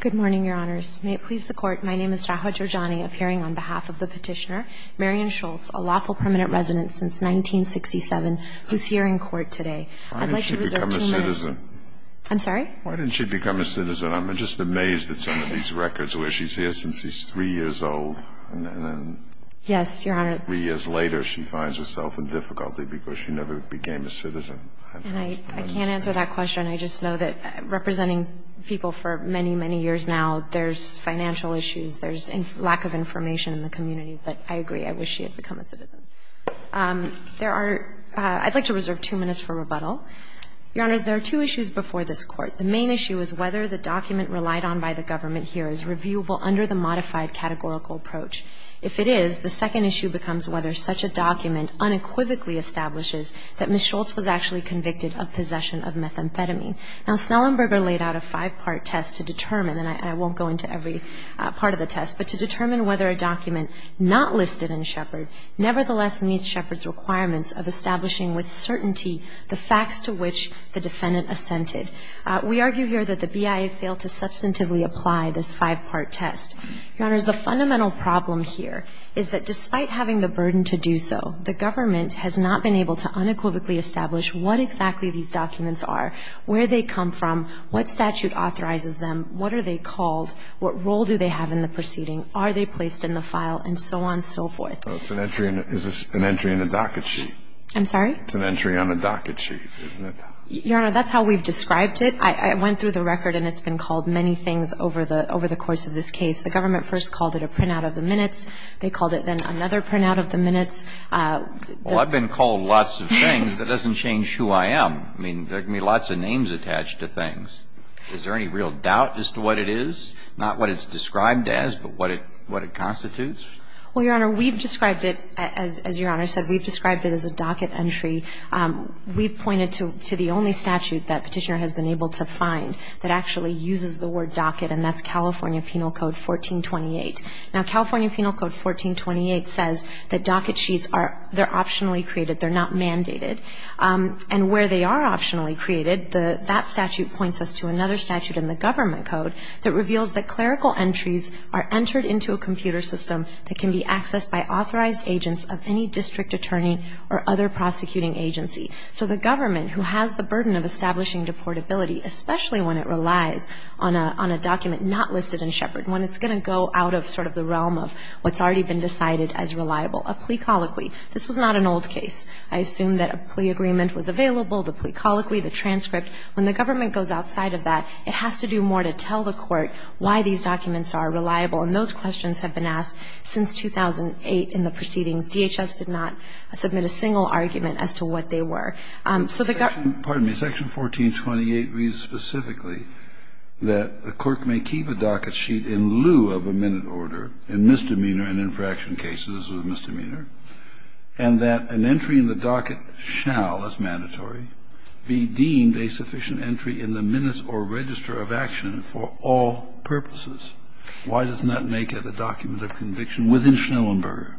Good morning, Your Honors. May it please the Court, my name is Rahwa Jorjani, appearing on behalf of the petitioner, Marion Scholz, a lawful permanent resident since 1967, who's here in court today. Why didn't she become a citizen? I'm sorry? Why didn't she become a citizen? I'm just amazed at some of these records where she's here since she's three years old. Yes, Your Honor. Three years later, she finds herself in difficulty because she never became a citizen. And I can't answer that question. I just know that representing people for many, many years now, there's financial issues, there's lack of information in the community. But I agree. I wish she had become a citizen. There are – I'd like to reserve two minutes for rebuttal. Your Honors, there are two issues before this Court. The main issue is whether the document relied on by the government here is reviewable under the modified categorical approach. If it is, the second issue becomes whether such a document unequivocally establishes that Ms. Scholz was actually convicted of possession of methamphetamine. Now, Snellenberger laid out a five-part test to determine, and I won't go into every part of the test, but to determine whether a document not listed in Shepard nevertheless meets Shepard's requirements of establishing with certainty the facts to which the defendant assented. We argue here that the BIA failed to substantively apply this five-part test. Your Honors, the fundamental problem here is that despite having the burden to do so, the government has not been able to unequivocally establish what exactly these documents are, where they come from, what statute authorizes them, what are they called, what role do they have in the proceeding, are they placed in the file, and so on and so forth. Well, it's an entry in a – is this an entry in a docket sheet? I'm sorry? It's an entry on a docket sheet, isn't it? Your Honor, that's how we've described it. I went through the record and it's been called many things over the course of this case. The government first called it a printout of the minutes. They called it then another printout of the minutes. Well, I've been called lots of things. That doesn't change who I am. I mean, there can be lots of names attached to things. Is there any real doubt as to what it is, not what it's described as, but what it constitutes? Well, Your Honor, we've described it, as Your Honor said, we've described it as a docket entry. We've pointed to the only statute that Petitioner has been able to find that actually uses the word docket, and that's California Penal Code 1428. Now, California Penal Code 1428 says that docket sheets are – they're optionally created. They're not mandated. And where they are optionally created, that statute points us to another statute in the government code that reveals that clerical entries are entered into a computer system that can be accessed by authorized agents of any district attorney or other prosecuting agency. So the government, who has the burden of establishing deportability, especially when it relies on a document not listed in Shepard, when it's going to go out of sort of the realm of what's already been decided as reliable, a plea colloquy. This was not an old case. I assume that a plea agreement was available, the plea colloquy, the transcript. When the government goes outside of that, it has to do more to tell the court why these documents are reliable. And those questions have been asked since 2008 in the proceedings. DHS did not submit a single argument as to what they were. So the government – Kennedy. Pardon me. Section 1428 reads specifically that the clerk may keep a docket sheet in lieu of a minute order in misdemeanor and infraction cases of misdemeanor, and that an entry in the docket shall, as mandatory, be deemed a sufficient entry in the minutes or register of action for all purposes. Why doesn't that make it a document of conviction within Schnellenberger?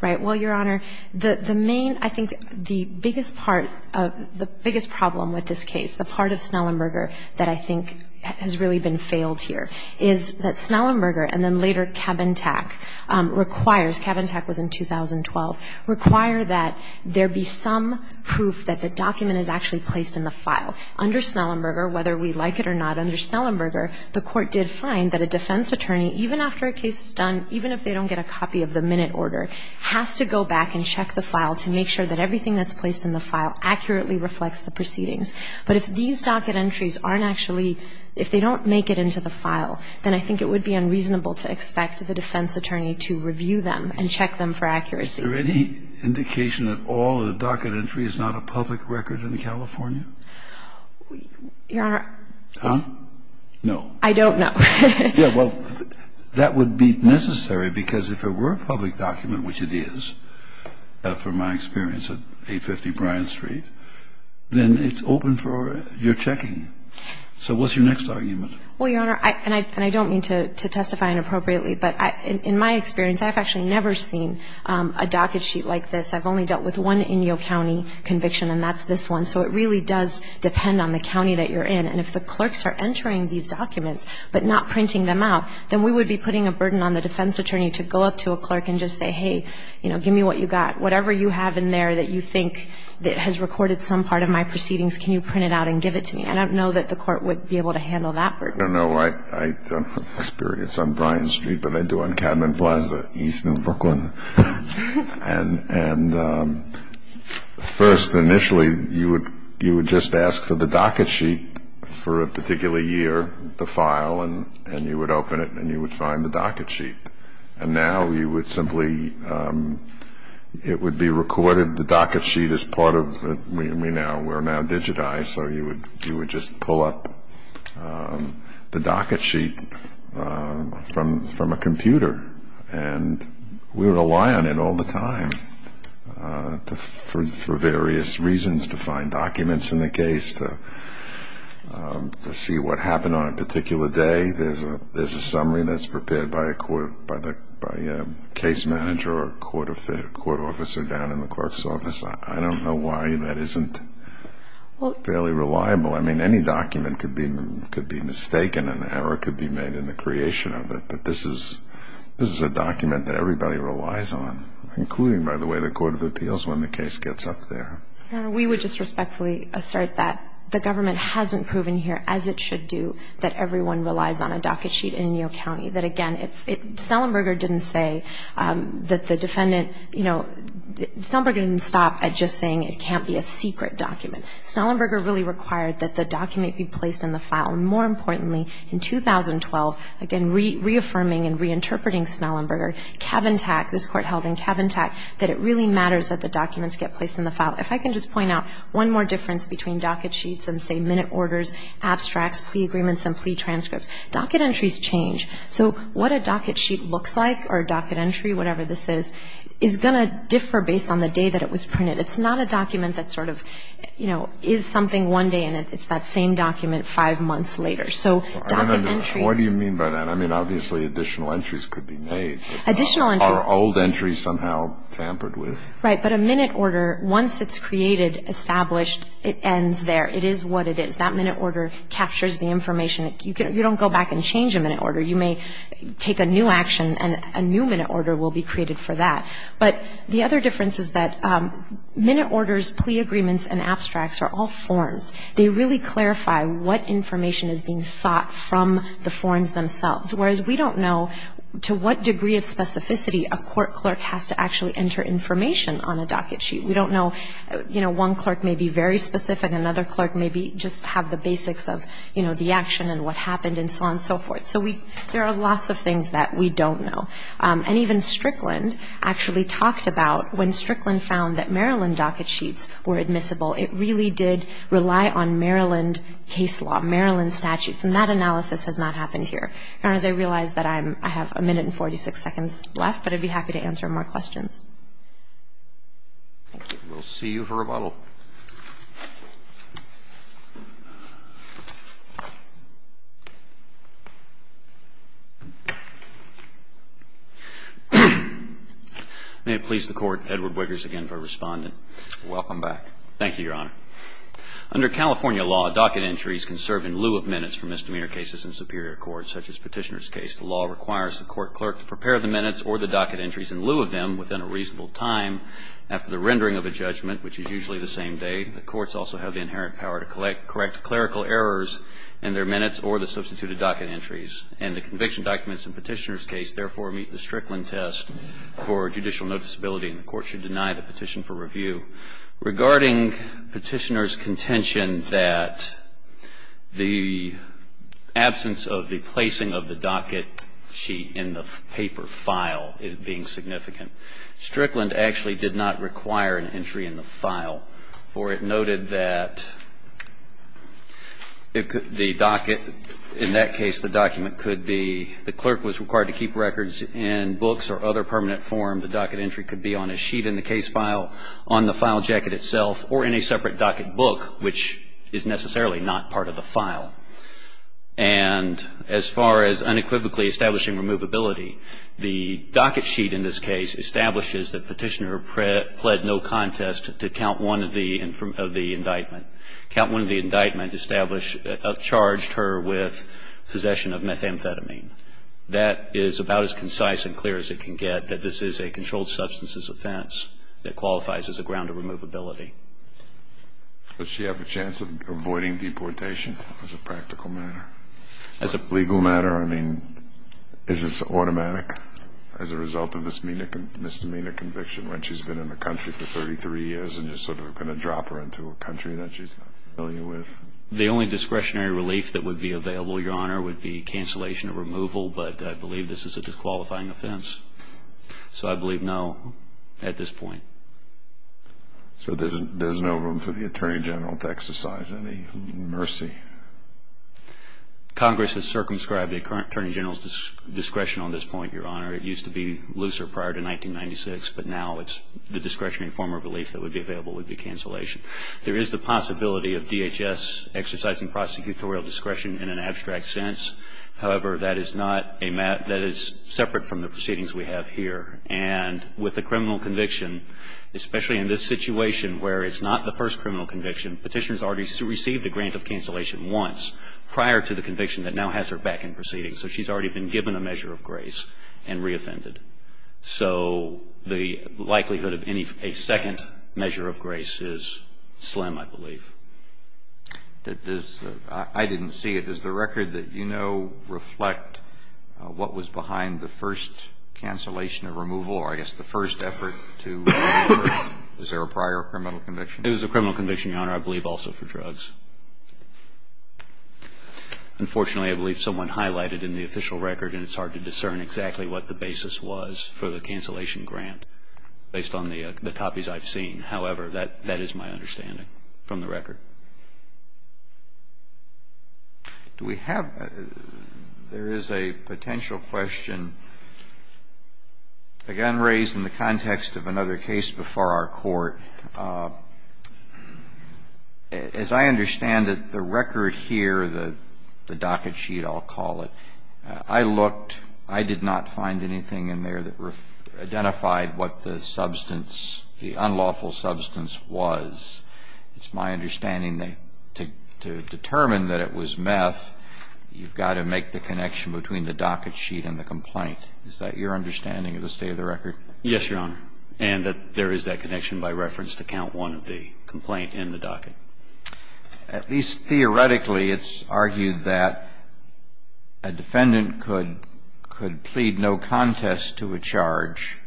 Right. Well, Your Honor, the main – I think the biggest part of – the biggest problem with this case, the part of Schnellenberger that I think has really been failed here is that Schnellenberger and then later Cabin-Tac requires – Cabin-Tac was in 2012 – require that there be some proof that the document is actually placed in the file. Under Schnellenberger, whether we like it or not, under Schnellenberger, the Court did find that a defense attorney, even after a case is done, even if they don't get a copy of the minute order, has to go back and check the file to make sure that everything that's placed in the file accurately reflects the proceedings. But if these docket entries aren't actually – if they don't make it into the file, then I think it would be unreasonable to expect the defense attorney to review them and check them for accuracy. Is there any indication at all that a docket entry is not a public record in California? Your Honor, it's – No. I don't know. Yeah, well, that would be necessary because if it were a public document, which it is, from my experience at 850 Bryant Street, then it's open for your checking. So what's your next argument? Well, Your Honor, and I don't mean to testify inappropriately, but in my experience, I've actually never seen a docket sheet like this. I've only dealt with one Inyo County conviction, and that's this one. So it really does depend on the county that you're in. And if the clerks are entering these documents but not printing them out, then we would be putting a burden on the defense attorney to go up to a clerk and just say, hey, you know, give me what you got. Whatever you have in there that you think that has recorded some part of my proceedings, can you print it out and give it to me? I don't know that the court would be able to handle that burden. No, no. I don't have experience on Bryant Street, but I do on Cadman Plaza east of Brooklyn. And first, initially, you would just ask for the docket sheet for a particular year, the file, and you would open it and you would find the docket sheet. And now you would simply – it would be recorded. The docket sheet is part of – we're now digitized, so you would just pull up the docket sheet from a computer. And we rely on it all the time for various reasons, to find documents in the case, to see what happened on a particular day. There's a summary that's prepared by a case manager or a court officer down in the clerk's office. I don't know why that isn't fairly reliable. I mean, any document could be mistaken and an error could be made in the creation of it. But this is a document that everybody relies on, including, by the way, the Court of Appeals when the case gets up there. We would just respectfully assert that the government hasn't proven here, as it should do, that everyone relies on a docket sheet in Neal County. That, again, if – Snellenberger didn't say that the defendant – you know, Snellenberger didn't stop at just saying it can't be a secret document. Snellenberger really required that the document be placed in the file. And more importantly, in 2012, again, reaffirming and reinterpreting Snellenberger, Cabin Tack, this Court held in Cabin Tack, that it really matters that the documents get placed in the file. If I can just point out one more difference between docket sheets and, say, minute orders, abstracts, plea agreements, and plea transcripts, docket entries change. So what a docket sheet looks like or a docket entry, whatever this is, is going to differ based on the day that it was printed. It's not a document that sort of, you know, is something one day in it. It's that same document five months later. So docket entries – I don't understand. What do you mean by that? I mean, obviously, additional entries could be made. Additional entries – Are old entries somehow tampered with? Right. But a minute order, once it's created, established, it ends there. It is what it is. That minute order captures the information. You don't go back and change a minute order. You may take a new action, and a new minute order will be created for that. But the other difference is that minute orders, plea agreements, and abstracts are all forms. They really clarify what information is being sought from the forms themselves, whereas we don't know to what degree of specificity a court clerk has to actually enter information on a docket sheet. We don't know – you know, one clerk may be very specific, another clerk may just have the basics of, you know, the action and what happened and so on and so forth. So there are lots of things that we don't know. And even Strickland actually talked about when Strickland found that Maryland docket sheets were admissible, it really did rely on Maryland case law, Maryland statutes. And that analysis has not happened here. Your Honors, I realize that I have a minute and 46 seconds left, but I'd be happy to answer more questions. Thank you. We'll see you for rebuttal. May it please the Court. Edward Wiggers again for Respondent. Welcome back. Thank you, Your Honor. Under California law, docket entries can serve in lieu of minutes for misdemeanor cases in superior courts, such as Petitioner's case. The law requires the court clerk to prepare the minutes or the docket entries in lieu of them within a reasonable time after the rendering of a judgment, which is usually the same day. The courts also have the inherent power to correct clerical errors in their minutes or the substituted docket entries. And the conviction documents in Petitioner's case, therefore, meet the Strickland test for judicial noticeability, and the court should deny the petition for review. Regarding Petitioner's contention that the absence of the placing of the docket sheet in the paper file is being significant, Strickland actually did not require an entry in the file, for it noted that the docket, in that case, the document could be, the clerk was required to keep records in books or other permanent form. The docket entry could be on a sheet in the case file, on the file jacket itself, or in a separate docket book, which is necessarily not part of the file. And as far as unequivocally establishing removability, the docket sheet in this case establishes that Petitioner pled no contest to count one of the indictment. Count one of the indictment established, charged her with possession of methamphetamine. That is about as concise and clear as it can get, that this is a controlled substances offense that qualifies as a ground of removability. Does she have a chance of avoiding deportation as a practical matter? As a legal matter, I mean, is this automatic as a result of this misdemeanor conviction when she's been in the country for 33 years and you're sort of going to drop her into a country that she's not familiar with? The only discretionary relief that would be available, Your Honor, would be cancellation of removal, but I believe this is a disqualifying offense. So I believe no at this point. So there's no room for the Attorney General to exercise any mercy? Congress has circumscribed the current Attorney General's discretion on this point, Your Honor. It used to be looser prior to 1996, but now it's the discretionary form of relief that would be available would be cancellation. There is the possibility of DHS exercising prosecutorial discretion in an abstract sense, however, that is not a matter that is separate from the proceedings we have here. And with a criminal conviction, especially in this situation where it's not the first criminal conviction, Petitioner has already received a grant of cancellation once prior to the conviction that now has her back in proceedings. So she's already been given a measure of grace and reoffended. So the likelihood of any second measure of grace is slim, I believe. I didn't see it. Does the record that you know reflect what was behind the first cancellation of removal, or I guess the first effort to remove her? Is there a prior criminal conviction? It was a criminal conviction, Your Honor, I believe also for drugs. Unfortunately, I believe someone highlighted in the official record, and it's hard to discern exactly what the basis was for the cancellation grant based on the copies I've seen. However, that is my understanding from the record. Do we have? There is a potential question, again, raised in the context of another case before our Court. As I understand it, the record here, the docket sheet, I'll call it, I looked. I did not find anything in there that identified what the substance, the unlawful substance was. It's my understanding that to determine that it was meth, you've got to make the connection between the docket sheet and the complaint. Is that your understanding of the state of the record? Yes, Your Honor, and that there is that connection by reference to count one of the complaint in the docket. At least theoretically, it's argued that a defendant could plead no contest to a charge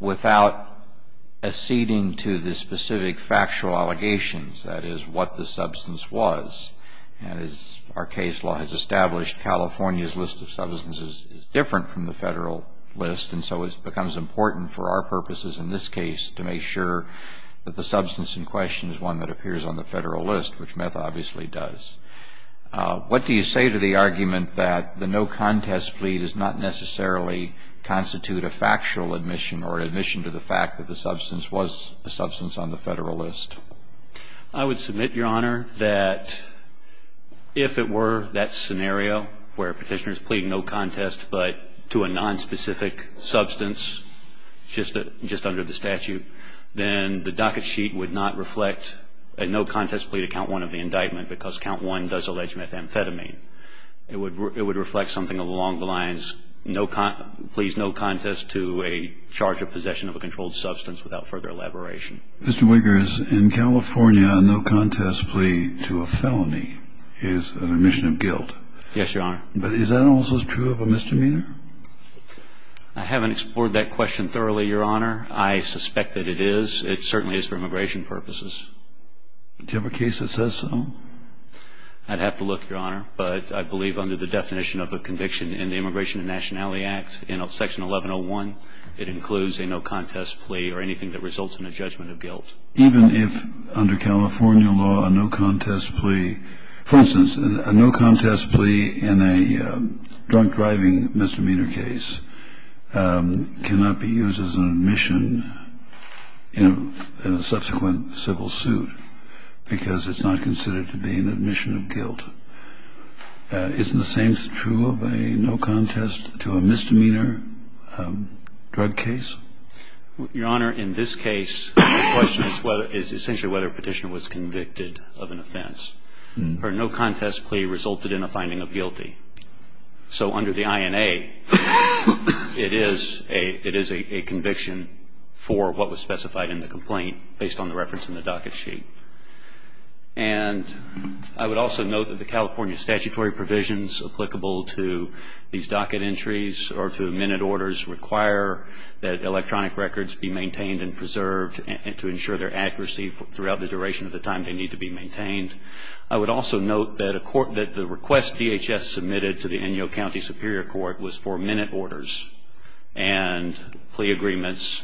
without acceding to the specific factual allegations, that is, what the substance was. And as our case law has established, California's list of substances is different from the Federal list, and so it becomes important for our purposes in this case to make sure that the substance in question is one that appears on the Federal list, which meth obviously does. What do you say to the argument that the no contest plea does not necessarily constitute a factual admission or admission to the fact that the substance was a substance on the Federal list? I would submit, Your Honor, that if it were that scenario where Petitioners plead no contest, but to a nonspecific substance, just under the statute, then the docket sheet would not reflect a no contest plea to count one of the indictment because count one does allege methamphetamine. It would reflect something along the lines, please no contest to a charge of possession of a controlled substance without further elaboration. Mr. Wiggers, in California, a no contest plea to a felony is an admission of guilt. Yes, Your Honor. But is that also true of a misdemeanor? I haven't explored that question thoroughly, Your Honor. I suspect that it is. It certainly is for immigration purposes. Do you have a case that says so? I'd have to look, Your Honor, but I believe under the definition of a conviction in the Immigration and Nationality Act, in Section 1101, it includes a no contest plea or anything that results in a judgment of guilt. Even if under California law, a no contest plea, for instance, a no contest plea in a drunk driving misdemeanor case cannot be used as an admission in a subsequent civil suit because it's not considered to be an admission of guilt. Isn't the same true of a no contest to a misdemeanor drug case? Your Honor, in this case, the question is essentially whether a Petitioner was convicted of an offense. A no contest plea resulted in a finding of guilty. So under the INA, it is a conviction for what was specified in the complaint based on the reference in the docket sheet. And I would also note that the California statutory provisions applicable to these to ensure their accuracy throughout the duration of the time they need to be maintained. I would also note that a court that the request DHS submitted to the Inyo County Superior Court was for minute orders and plea agreements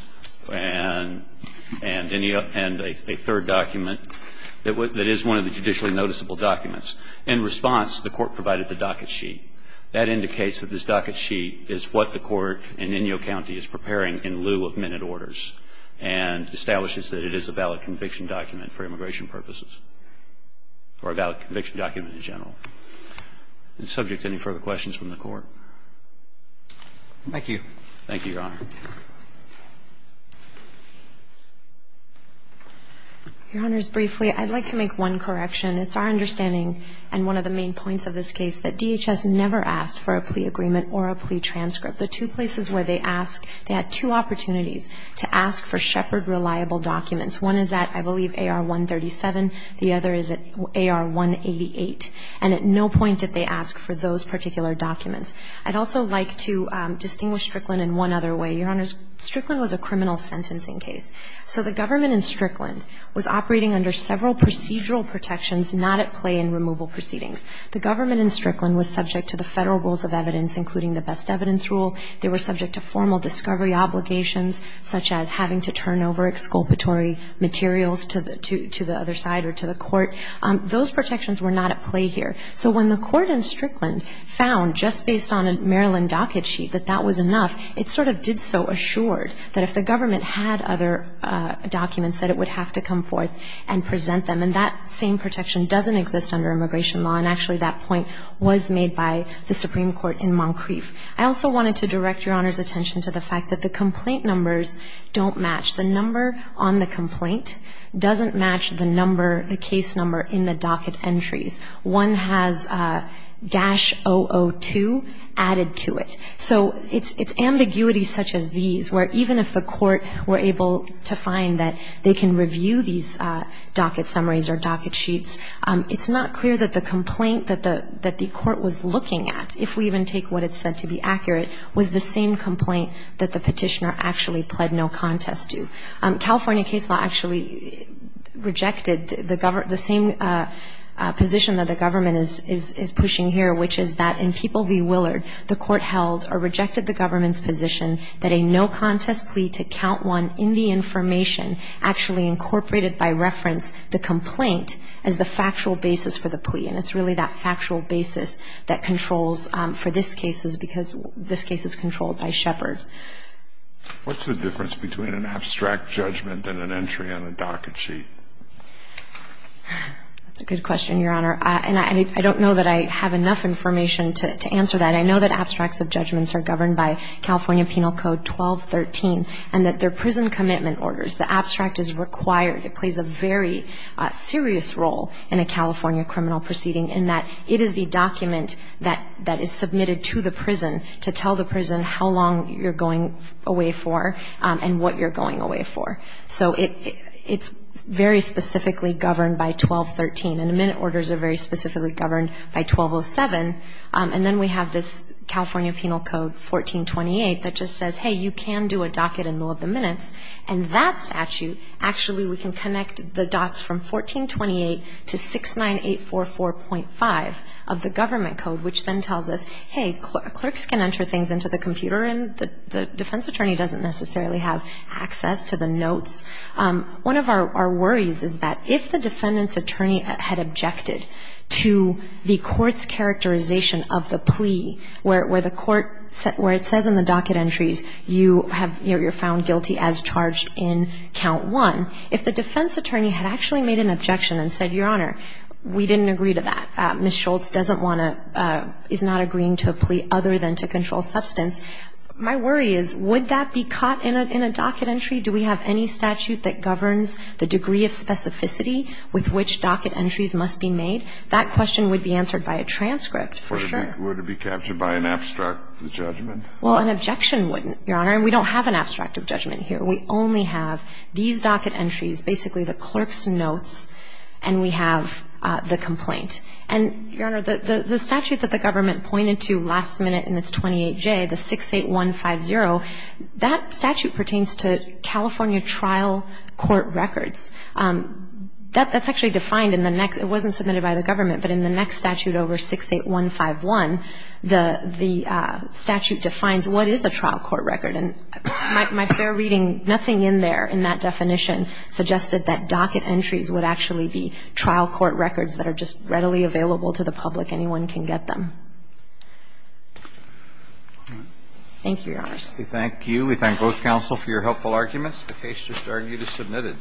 and a third document that is one of the judicially noticeable documents. In response, the court provided the docket sheet. That indicates that this docket sheet is what the court in Inyo County is preparing in lieu of minute orders and establishes that it is a valid conviction document for immigration purposes or a valid conviction document in general. Subject to any further questions from the Court? Thank you. Thank you, Your Honor. Your Honors, briefly, I'd like to make one correction. It's our understanding, and one of the main points of this case, that DHS never asked for a plea agreement or a plea transcript. The two places where they asked, they had two opportunities to ask for Shepard reliable documents. One is at, I believe, AR-137. The other is at AR-188. And at no point did they ask for those particular documents. I'd also like to distinguish Strickland in one other way. Your Honors, Strickland was a criminal sentencing case. So the government in Strickland was operating under several procedural protections not at play in removal proceedings. The government in Strickland was subject to the federal rules of evidence, including the best evidence rule. They were subject to formal discovery obligations, such as having to turn over exculpatory materials to the other side or to the court. Those protections were not at play here. So when the court in Strickland found, just based on a Maryland docket sheet, that that was enough, it sort of did so assured that if the government had other documents, that it would have to come forth and present them. And that same protection doesn't exist under immigration law. And actually, that point was made by the Supreme Court in Moncrief. I also wanted to direct Your Honors' attention to the fact that the complaint numbers don't match. The number on the complaint doesn't match the number, the case number in the docket entries. One has "-002 added to it. So it's ambiguity such as these, where even if the court were able to find that they can review these docket summaries or docket sheets, it's not clear that the complaint that the court was looking at, if we even take what it said to be accurate, was the same complaint that the petitioner actually pled no contest to. California case law actually rejected the same position that the government is pushing here, which is that in People v. Willard, the court held or rejected the government's position that a no contest plea to count one in the information actually incorporated by reference the complaint as the factual basis for the plea. And it's really that factual basis that controls for this case, because this case is controlled by Shepard. What's the difference between an abstract judgment and an entry on a docket sheet? That's a good question, Your Honor. And I don't know that I have enough information to answer that. I know that abstracts of judgments are governed by California Penal Code 1213, and that they're prison commitment orders. The abstract is required. It plays a very serious role in a California criminal proceeding in that it is the document that is submitted to the prison to tell the prison how long you're going away for and what you're going away for. So it's very specifically governed by 1213. And the minute orders are very specifically governed by 1207. And then we have this California Penal Code 1428 that just says, hey, you can do a docket in lieu of the minutes. And that statute, actually, we can connect the dots from 1428 to 69844.5 of the government code, which then tells us, hey, clerks can enter things into the computer and the defense attorney doesn't necessarily have access to the notes. One of our worries is that if the defendant's attorney had objected to the court's characterization of the plea, where the court, where it says in the docket entries you have, you know, you're found guilty as charged in count one, if the defense attorney had actually made an objection and said, Your Honor, we didn't agree to that, Ms. Schultz doesn't want to, is not agreeing to a plea other than to control substance, my worry is, would that be caught in a docket entry? Do we have any statute that governs the degree of specificity with which docket entries must be made? That question would be answered by a transcript, for sure. Would it be captured by an abstract judgment? Well, an objection wouldn't, Your Honor. And we don't have an abstract of judgment here. We only have these docket entries, basically the clerk's notes, and we have the complaint. And, Your Honor, the statute that the government pointed to last minute in its 28J, the 68150, that statute pertains to California trial court records. That's actually defined in the next, it wasn't submitted by the government, but in the next statute over 68151, the statute defines what is a trial court record. And my fair reading, nothing in there in that definition suggested that docket entries would actually be trial court records that are just readily available to the public. Anyone can get them. Thank you, Your Honor. We thank you. We thank both counsel for your helpful arguments. The case just argued is submitted.